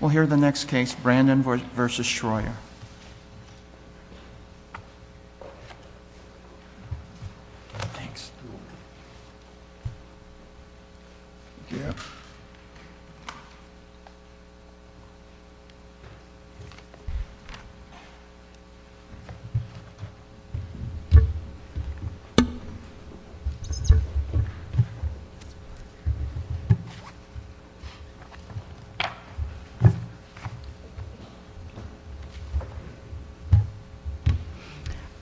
We'll hear the next case, Brandon v. Schroyer.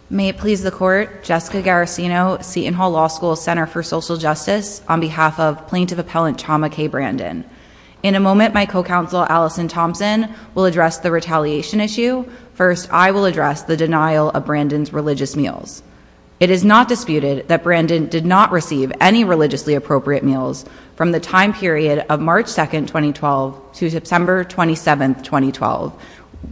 May it please the court, Jessica Garasino, Seton Hall Law School's Center for Social Justice on behalf of plaintiff appellant Chama K. Brandon. In a moment my co-counsel Allison Thompson will address the retaliation issue. First I will address the denial of Brandon's religious meals. It is not disputed that Brandon did not receive any religiously appropriate meals from the court on December 27, 2012,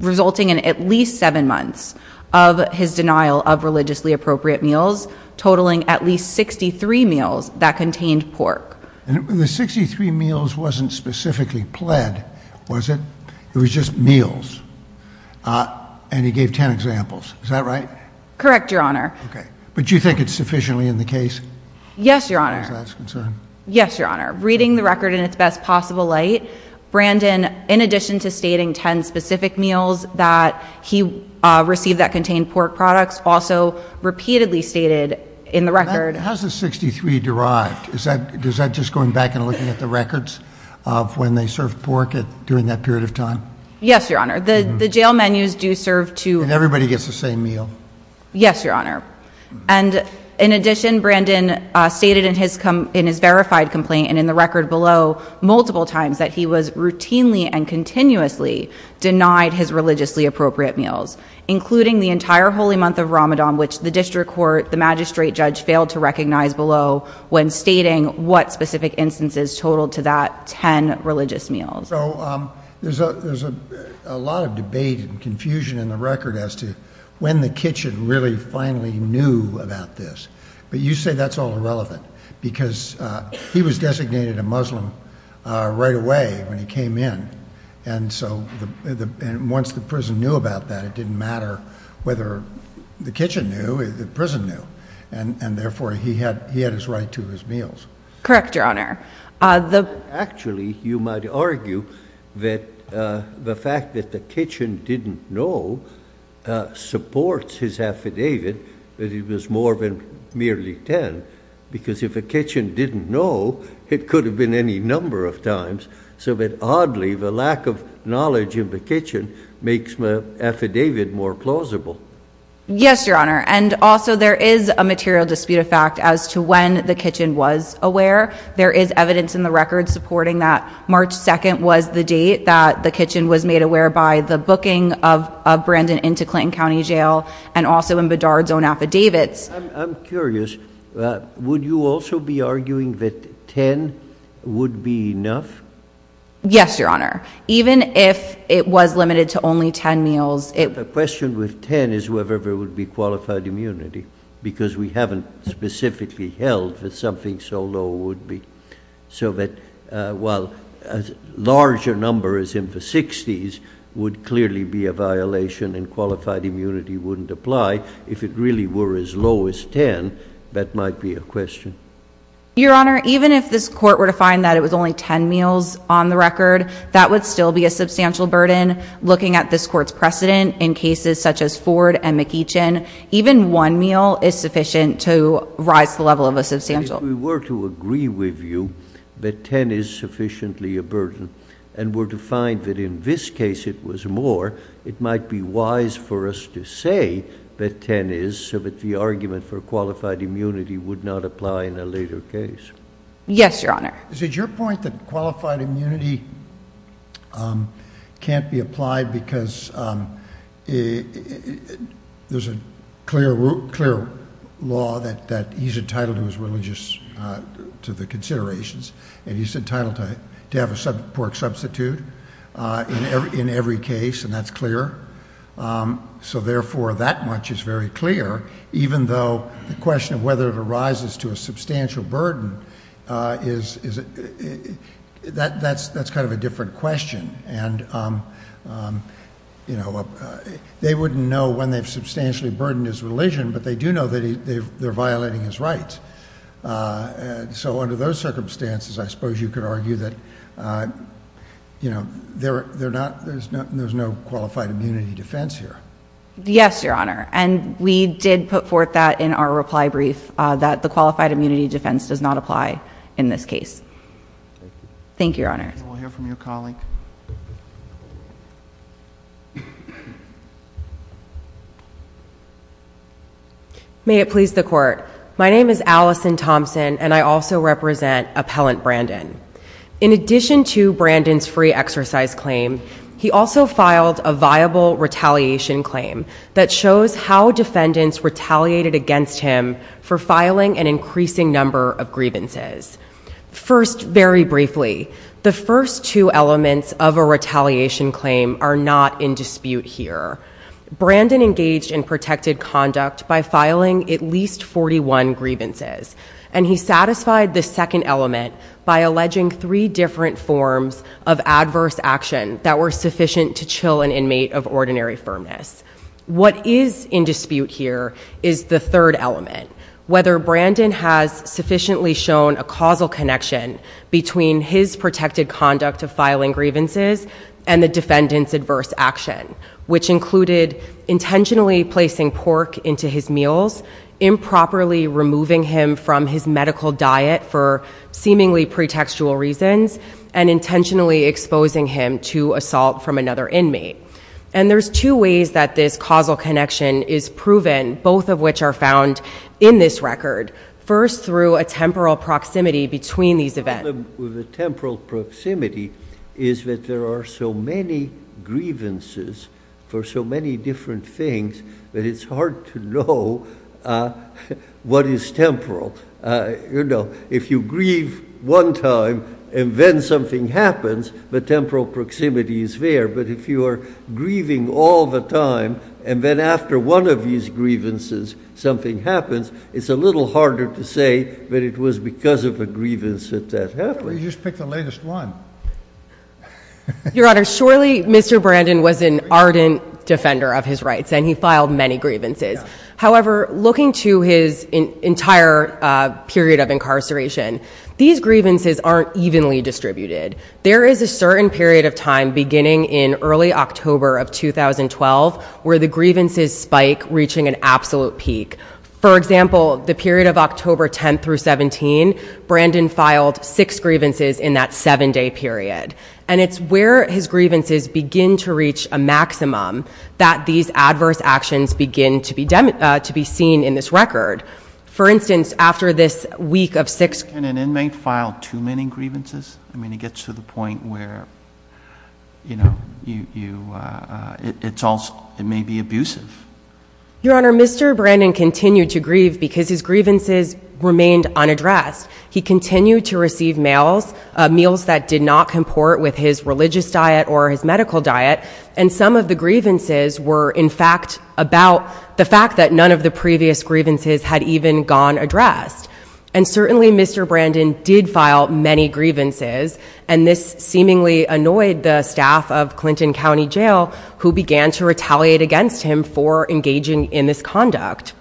resulting in at least seven months of his denial of religiously appropriate meals, totaling at least 63 meals that contained pork. And the 63 meals wasn't specifically pled, was it? It was just meals. And he gave 10 examples. Is that right? Correct, Your Honor. Okay. But do you think it's sufficiently in the case? Yes, Your Honor. As far as that's concerned? Yes, Your Honor. Reading the record in its best possible light, Brandon, in addition to stating 10 specific meals that he received that contained pork products, also repeatedly stated in the record How is the 63 derived? Is that just going back and looking at the records of when they served pork during that period of time? Yes, Your Honor. The jail menus do serve to And everybody gets the same meal? Yes, Your Honor. And in addition, Brandon stated in his verified complaint and in the record below multiple times that he was routinely and continuously denied his religiously appropriate meals, including the entire holy month of Ramadan, which the district court, the magistrate judge failed to recognize below when stating what specific instances totaled to that 10 religious meals. So there's a lot of debate and confusion in the record as to when the kitchen really finally knew about this. But you say that's all irrelevant because he was designated a Muslim right away when he came in. And so once the prison knew about that, it didn't matter whether the kitchen knew, the prison knew. And therefore, he had his right to his meals. Correct, Your Honor. Actually, you might argue that the fact that the kitchen didn't know supports his affidavit that it was more than merely 10, because if a kitchen didn't know, it could have been any number of times. So that oddly, the lack of knowledge in the kitchen makes the affidavit more plausible. Yes, Your Honor. And also there is a material dispute of fact as to when the kitchen was aware. There is evidence in the record supporting that March 2nd was the date that the kitchen was made aware by the booking of Brandon into Clinton County Jail and also in Bedard's own affidavits. I'm curious. Would you also be arguing that 10 would be enough? Yes, Your Honor. Even if it was limited to only 10 meals. The question with 10 is whether there would be qualified immunity, because we haven't specifically held that something so low would be. So that while a larger number is in the 60s, would clearly be a violation and qualified immunity wouldn't apply. If it really were as low as 10, that might be a question. Your Honor, even if this court were to find that it was only 10 meals on the record, that would still be a substantial burden. Looking at this court's precedent in cases such as Ford and McEachin, even one meal is sufficient to rise the level of a substantial. If we were to agree with you that 10 is sufficiently a burden and were to find that in this case it was more, it might be wise for us to say that 10 is so that the argument for qualified immunity would not apply in a later case. Yes, Your Honor. Is it your point that qualified immunity can't be applied because there's a clear law that he's entitled to his religious, to the considerations, and he's entitled to have a support substitute in every case, and that's clear? So therefore, that much is very clear, even though the question of whether it arises to a substantial burden, that's kind of a different question. They wouldn't know when they've substantially burdened his religion, but they do know that they're violating his rights. So under those circumstances, I suppose you could argue that there's no qualified immunity defense here. Yes, Your Honor, and we did put forth that in our reply brief, that the qualified immunity defense does not apply in this case. Thank you, Your Honor. We'll hear from your colleague. Yes, Your Honor. May it please the Court. My name is Allison Thompson, and I also represent Appellant Brandon. In addition to Brandon's free exercise claim, he also filed a viable retaliation claim that shows how defendants retaliated against him for filing an increasing number of grievances. First, very briefly, the first two elements of a retaliation claim are not in dispute here. Brandon engaged in protected conduct by filing at least 41 grievances, and he satisfied the second element by alleging three different forms of adverse action that were sufficient to chill an inmate of ordinary firmness. What is in dispute here is the third element, whether Brandon has sufficiently shown a causal connection between his protected conduct of filing grievances and the defendant's adverse action, which included intentionally placing pork into his meals, improperly removing him from his medical diet for seemingly pretextual reasons, and intentionally exposing him to assault from another inmate. And there's two ways that this causal connection is proven, both of which are found in this record. First, through a temporal proximity between these events. The problem with the temporal proximity is that there are so many grievances for so many different things that it's hard to know what is temporal. You know, if you grieve one time and then something happens, the temporal proximity is there, but if you are grieving all the time and then after one of these grievances something happens, it's a little harder to say that it was because of a grievance that that happened. Why don't you just pick the latest one? Your Honor, surely Mr. Brandon was an ardent defender of his rights, and he filed many grievances. However, looking to his entire period of incarceration, these grievances aren't evenly distributed. There is a certain period of time, beginning in early October of 2012, where the grievances spike, reaching an absolute peak. For example, the period of October 10th through 17th, Brandon filed six grievances in that seven-day period. And it's where his grievances begin to reach a maximum that these adverse actions begin to be seen in this record. For instance, after this week of six- Can an inmate file too many grievances? I mean, it gets to the point where, you know, it may be abusive. Your Honor, Mr. Brandon continued to grieve because his grievances remained unaddressed. He continued to receive meals that did not comport with his religious diet or his medical diet, and some of the grievances were, in fact, about the fact that none of the previous grievances had even gone addressed. And certainly, Mr. Brandon did file many grievances, and this seemingly annoyed the staff of Clinton County Jail, who began to retaliate against him for engaging in this conduct.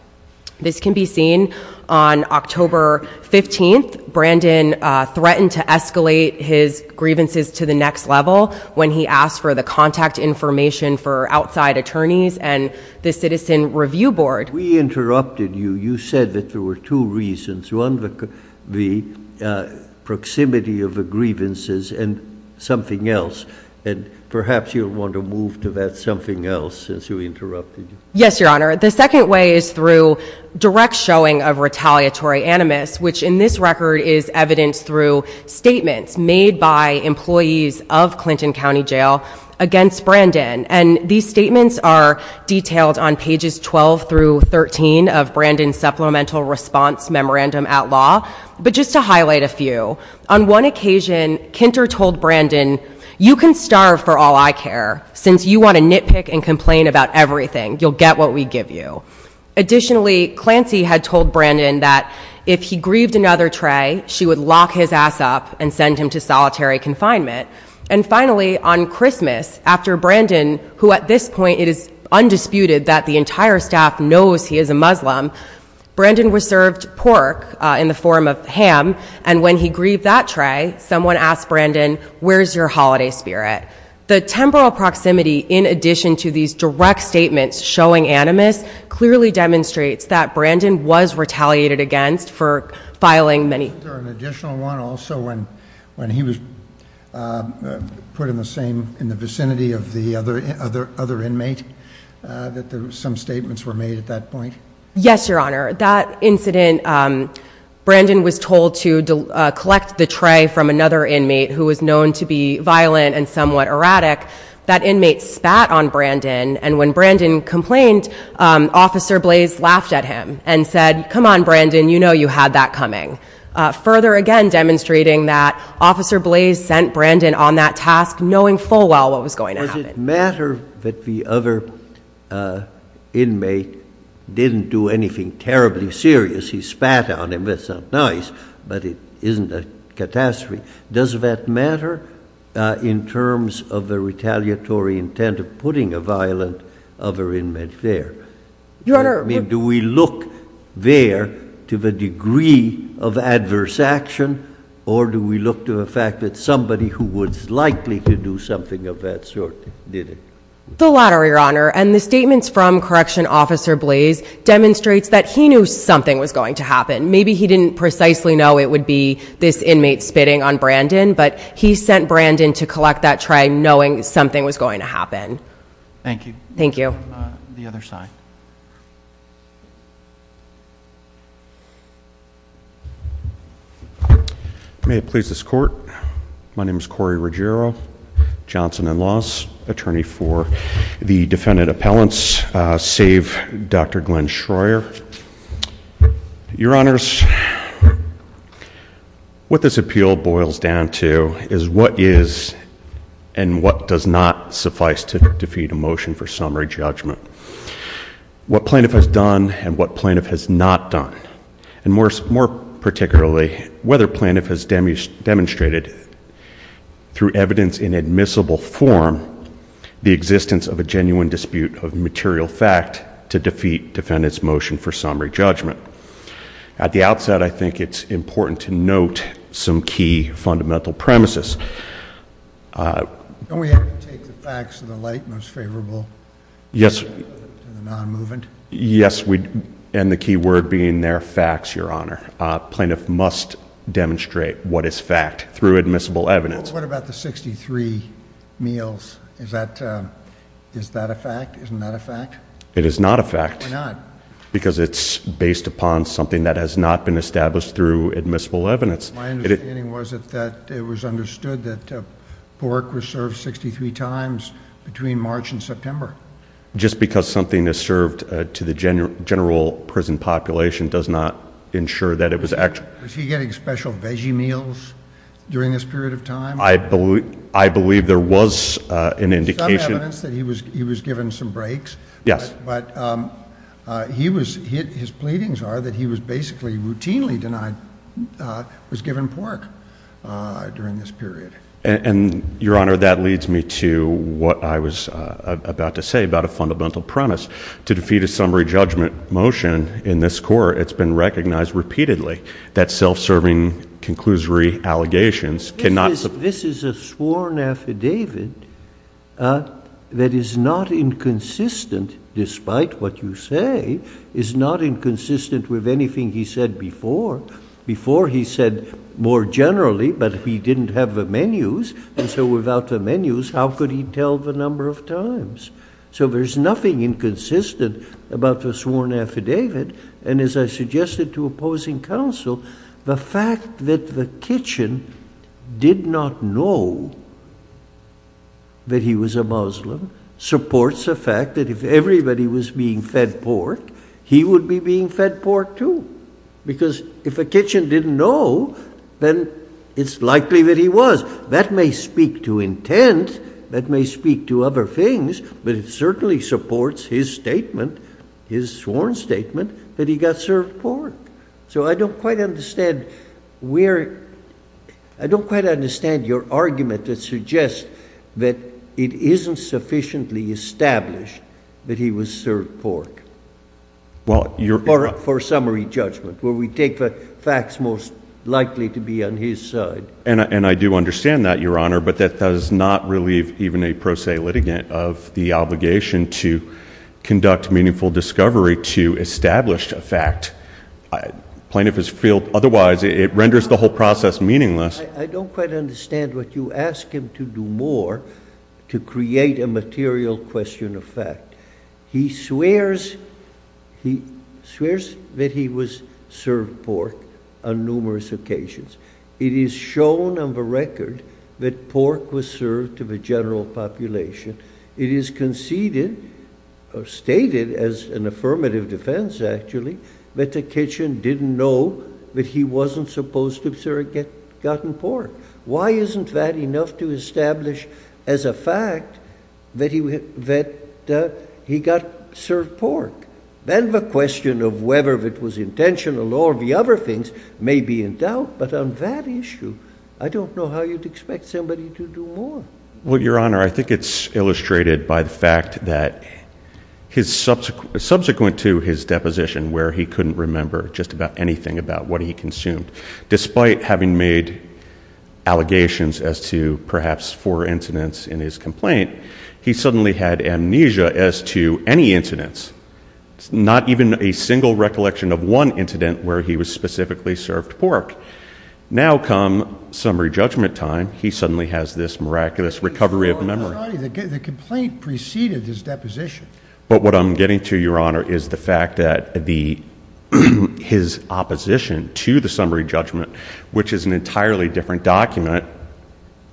This can be seen on October 15th. Brandon threatened to escalate his grievances to the next level when he asked for the contact information for outside attorneys and the Citizen Review Board. We interrupted you. You said that there were two reasons, one, the proximity of the grievances and something else. And perhaps you'll want to move to that something else, since you interrupted me. Yes, Your Honor. The second way is through direct showing of retaliatory animus, which in this record is evidenced through statements made by employees of Clinton County Jail against Brandon. And these statements are detailed on pages 12 through 13 of Brandon's Supplemental Response Memorandum at Law. But just to highlight a few, on one occasion, Kinter told Brandon, you can starve for all I care, since you want to nitpick and complain about everything. You'll get what we give you. Additionally, Clancy had told Brandon that if he grieved another tray, she would lock his ass up and send him to solitary confinement. And finally, on Christmas, after Brandon, who at this point, it is undisputed that the entire staff knows he is a Muslim, Brandon was served pork in the form of ham. And when he grieved that tray, someone asked Brandon, where's your holiday spirit? The temporal proximity, in addition to these direct statements showing animus, clearly demonstrates that Brandon was retaliated against for filing many- Was there an additional one also when he was put in the vicinity of the other inmate, that some statements were made at that point? Yes, Your Honor. That incident, Brandon was told to collect the tray from another inmate who was known to be violent and somewhat erratic. That inmate spat on Brandon, and when Brandon complained, Officer Blaze laughed at him and said, come on, Brandon, you know you had that coming. Further, again, demonstrating that Officer Blaze sent Brandon on that task knowing full well what was going to happen. Was it a matter that the other inmate didn't do anything terribly serious? He spat on him, that's not nice, but it isn't a catastrophe. Does that matter in terms of the retaliatory intent of putting a violent other inmate there? Your Honor- I mean, do we look there to the degree of adverse action, or do we look to the fact that somebody who was likely to do something of that sort did it? The latter, Your Honor, and the statements from Correction Officer Blaze demonstrates that he knew something was going to happen. Maybe he didn't precisely know it would be this inmate spitting on Brandon, but he sent Brandon to collect that tray knowing something was going to happen. Thank you. Thank you. Thank you. The other side. May it please this Court, my name is Corey Ruggiero, Johnson and Laws, Attorney for the Defendant Appellants, save Dr. Glenn Schreier. Your Honors, what this appeal boils down to is what is and what does not suffice to defeat a motion for summary judgment. What plaintiff has done and what plaintiff has not done, and more particularly, whether plaintiff has demonstrated through evidence in admissible form the existence of a genuine dispute of material fact to defeat defendant's motion for summary judgment. At the outset, I think it's important to note some key fundamental premises. Don't we have to take the facts to the light, most favorable to the non-movement? Yes, and the key word being there, facts, Your Honor. Plaintiff must demonstrate what is fact through admissible evidence. What about the 63 meals? Is that a fact? Isn't that a fact? It is not a fact. Why not? Because it's based upon something that has not been established through admissible evidence. My understanding was that it was understood that pork was served 63 times between March and September. Just because something is served to the general prison population does not ensure that it was actually served. Was he getting special veggie meals during this period of time? I believe there was an indication. There's some evidence that he was given some breaks. Yes. But his pleadings are that he was basically routinely denied, was given pork during this period. And, Your Honor, that leads me to what I was about to say about a fundamental premise. To defeat a summary judgment motion in this court, it's been recognized repeatedly that sworn affidavit that is not inconsistent, despite what you say, is not inconsistent with anything he said before. Before he said more generally, but he didn't have the menus, and so without the menus, how could he tell the number of times? So there's nothing inconsistent about the sworn affidavit. And as I suggested to opposing counsel, the fact that the kitchen did not know that he was a Muslim supports the fact that if everybody was being fed pork, he would be being fed pork too. Because if a kitchen didn't know, then it's likely that he was. That may speak to intent, that may speak to other things, but it certainly supports his sworn statement that he got served pork. So I don't quite understand where, I don't quite understand your argument that suggests that it isn't sufficiently established that he was served pork. For summary judgment, where we take the facts most likely to be on his side. And I do understand that, Your Honor, but that does not relieve even a pro se litigant of the obligation to conduct meaningful discovery to establish a fact. Plaintiff has failed, otherwise it renders the whole process meaningless. I don't quite understand what you ask him to do more to create a material question of fact. He swears that he was served pork on numerous occasions. It is shown on the record that pork was served to the general population. It is conceded or stated as an affirmative defense, actually, that the kitchen didn't know that he wasn't supposed to have gotten pork. Why isn't that enough to establish as a fact that he got served pork? Then the question of whether it was intentional or the other things may be in doubt, but I'm on that issue, I don't know how you'd expect somebody to do more. Well, Your Honor, I think it's illustrated by the fact that subsequent to his deposition where he couldn't remember just about anything about what he consumed, despite having made allegations as to perhaps four incidents in his complaint, he suddenly had amnesia as to any incidents, not even a single recollection of one incident where he was specifically served pork. Now come summary judgment time, he suddenly has this miraculous recovery of memory. The complaint preceded his deposition. But what I'm getting to, Your Honor, is the fact that his opposition to the summary judgment, which is an entirely different document,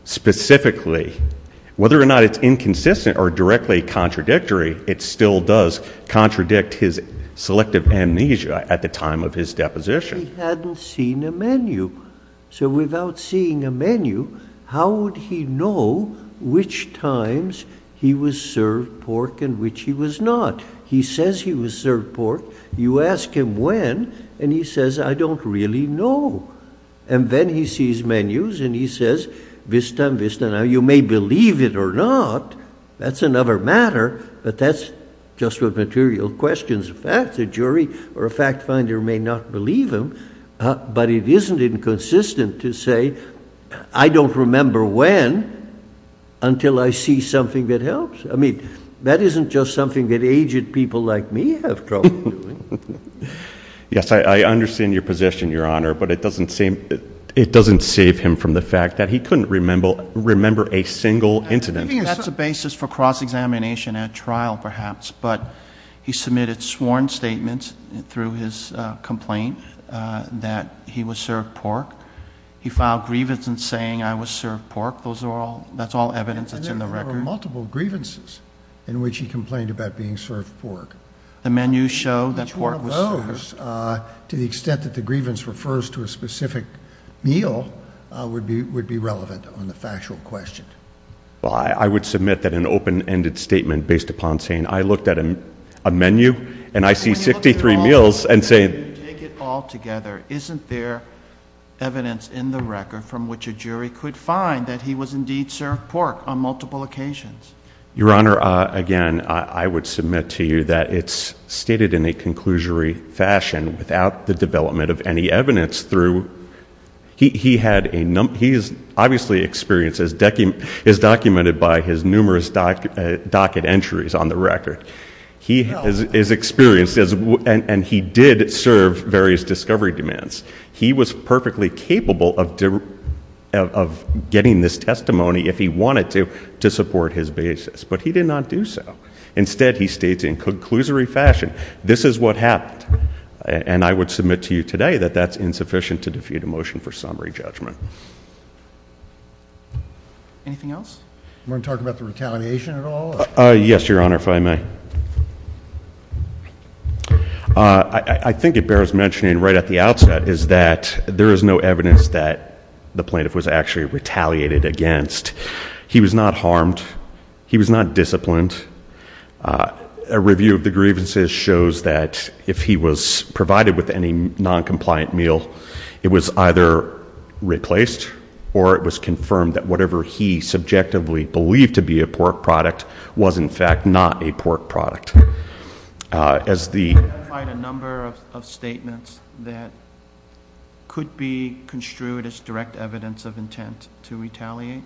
specifically, whether or not it's inconsistent or directly contradictory, it still does contradict his selective amnesia at the time of his deposition. He hadn't seen a menu. So without seeing a menu, how would he know which times he was served pork and which he was not? He says he was served pork. You ask him when, and he says, I don't really know. And then he sees menus, and he says, vista, vista, now you may believe it or not, that's another matter, but that's just what material questions. As a fact, the jury or a fact finder may not believe him, but it isn't inconsistent to say I don't remember when until I see something that helps. I mean, that isn't just something that aged people like me have trouble doing. Yes, I understand your position, Your Honor, but it doesn't save him from the fact that he couldn't remember a single incident. That's a basis for cross-examination at trial, perhaps, but he submitted sworn statements through his complaint that he was served pork. He filed grievance in saying I was served pork. Those are all, that's all evidence that's in the record. And there were multiple grievances in which he complained about being served pork. The menus show that pork was served. Which one of those, to the extent that the grievance refers to a specific meal, would be relevant on the factual question? Well, I would submit that an open-ended statement based upon saying I looked at a menu and I see 63 meals and say. When you look at it all together, isn't there evidence in the record from which a jury could find that he was indeed served pork on multiple occasions? Your Honor, again, I would submit to you that it's stated in a conclusory fashion without the development of any evidence through. He had a, he's obviously experienced, is documented by his numerous docket entries on the record. He is experienced and he did serve various discovery demands. He was perfectly capable of getting this testimony if he wanted to to support his basis. But he did not do so. Instead, he states in conclusory fashion, this is what happened. And I would submit to you today that that's insufficient to defeat a motion for summary judgment. Anything else? You want to talk about the retaliation at all? Yes, Your Honor, if I may. I think it bears mentioning right at the outset is that there is no evidence that the plaintiff was actually retaliated against. He was not harmed. He was not disciplined. A review of the grievances shows that if he was provided with any noncompliant meal, it was either replaced or it was confirmed that whatever he subjectively believed to be a pork product was in fact not a pork product. As the- I find a number of statements that could be construed as direct evidence of intent to retaliate.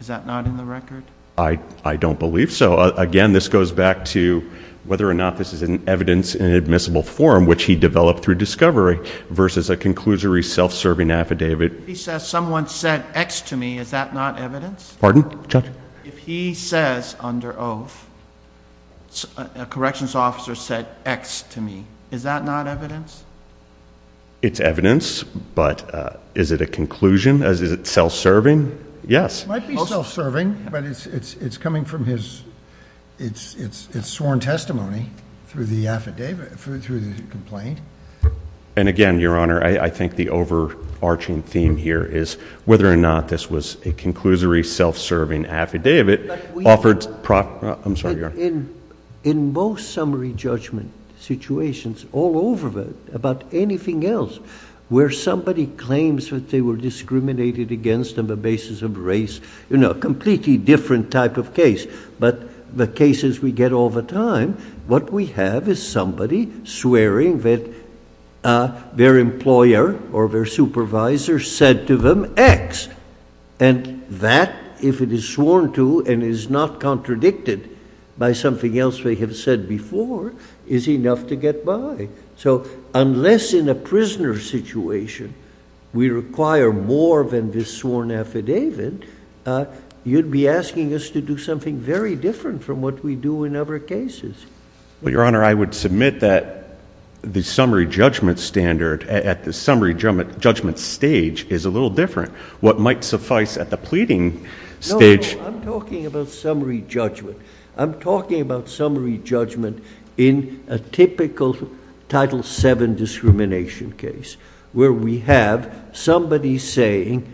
Is that not in the record? I don't believe so. Again, this goes back to whether or not this is an evidence in admissible form which he developed through discovery versus a conclusory self-serving affidavit. He says someone said X to me. Is that not evidence? Pardon, Judge? If he says under oath, a corrections officer said X to me, is that not evidence? It's evidence, but is it a conclusion? Is it self-serving? Yes. It might be self-serving, but it's coming from his- it's sworn testimony through the affidavit, through the complaint. And again, Your Honor, I think the overarching theme here is whether or not this was a conclusory self-serving affidavit offered- I'm sorry, Your Honor. In most summary judgment situations all over about anything else where somebody claims that they were discriminated against on the basis of race, you know, completely different type of case. But the cases we get all the time, what we have is somebody swearing that their employer or their supervisor said to them X. And that, if it is sworn to and is not contradicted by something else they have said before, is enough to get by. So, unless in a prisoner situation we require more than this sworn affidavit, you'd be asking us to do something very different from what we do in other cases. But, Your Honor, I would submit that the summary judgment standard at the summary judgment stage is a little different. What might suffice at the pleading stage- No, no, I'm talking about summary judgment. I'm talking about summary judgment in a typical Title VII discrimination case where we have somebody saying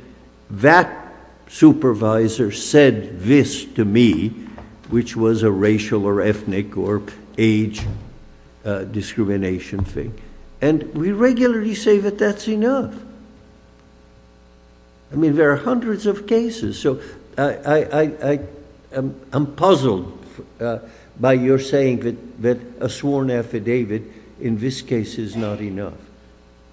that supervisor said this to me, which was a racial or ethnic or age discrimination thing. And we regularly say that that's enough. I mean, there are hundreds of cases. So, I'm puzzled by your saying that a sworn affidavit in this case is not enough.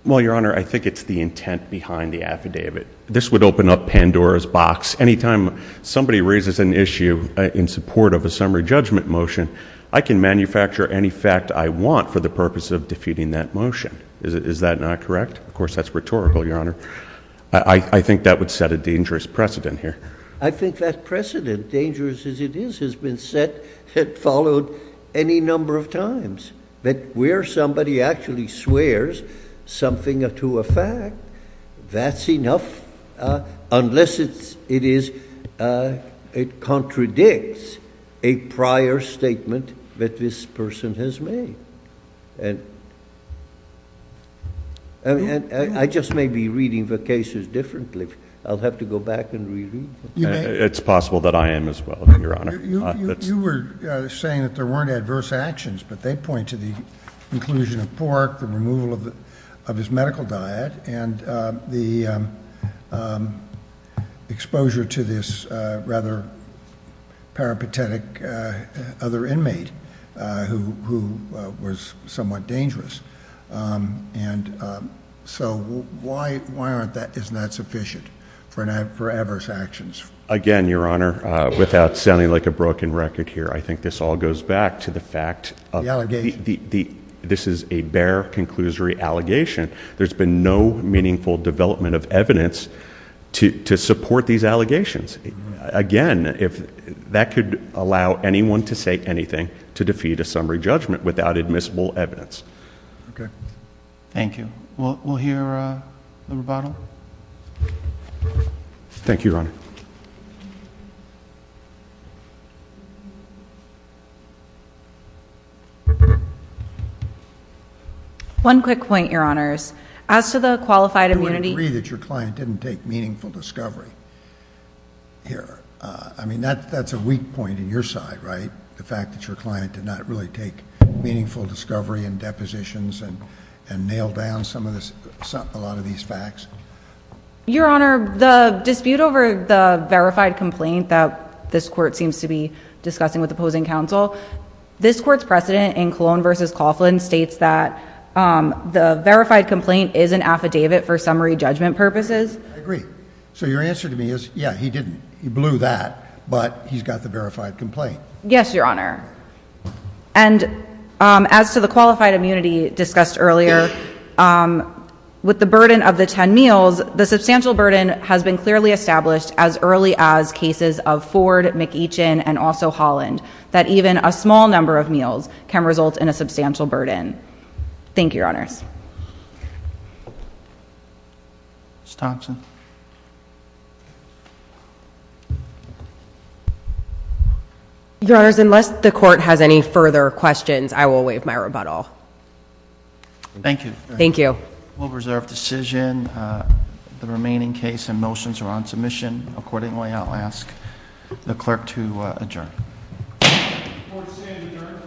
Well, Your Honor, I think it's the intent behind the affidavit. This would open up Pandora's box. Anytime somebody raises an issue in support of a summary judgment motion, I can manufacture any fact I want for the purpose of defeating that motion. Is that not correct? Of course, that's rhetorical, Your Honor. I think that would set a dangerous precedent here. I think that precedent, dangerous as it is, has been set, had followed any number of times. But where somebody actually swears something to a fact, that's enough unless it contradicts a prior statement that this person has made. And I just may be reading the cases differently. I'll have to go back and re-read them. It's possible that I am as well, Your Honor. You were saying that there weren't adverse actions, but they point to the inclusion of pork, the removal of his medical diet, and the exposure to this rather peripatetic other inmate who was somewhat dangerous. And so why isn't that sufficient for adverse actions? Again, Your Honor, without sounding like a broken record here, I think this all goes back to the fact of this is a bare conclusory allegation. There's been no meaningful development of evidence to support these allegations. Again, that could allow anyone to say anything to defeat a summary judgment without admissible evidence. Thank you. We'll hear the rebuttal. Thank you, Your Honor. One quick point, Your Honors. As to the qualified immunity. I agree that your client didn't take meaningful discovery here. I mean, that's a weak point in your side, right? The fact that your client did not really take meaningful discovery and depositions and nail down a lot of these facts? Your Honor, the dispute over the verified complaint that this court seems to be discussing with opposing counsel, this court's precedent in Colon versus Coughlin states that the verified complaint is an affidavit for summary judgment purposes. I agree. So your answer to me is, yeah, he didn't. He blew that. But he's got the verified complaint. Yes, Your Honor. And as to the qualified immunity discussed earlier, with the burden of the 10 meals, the substantial burden has been clearly established as early as cases of Ford, McEachin, and also Coughlin, that even a small number of meals can result in a substantial burden. Thank you, Your Honors. Ms. Thompson. Your Honors, unless the court has any further questions, I will waive my rebuttal. Thank you. Thank you. We'll reserve decision. The remaining case and motions are on submission. Accordingly, I'll ask the clerk to adjourn. The court is adjourned.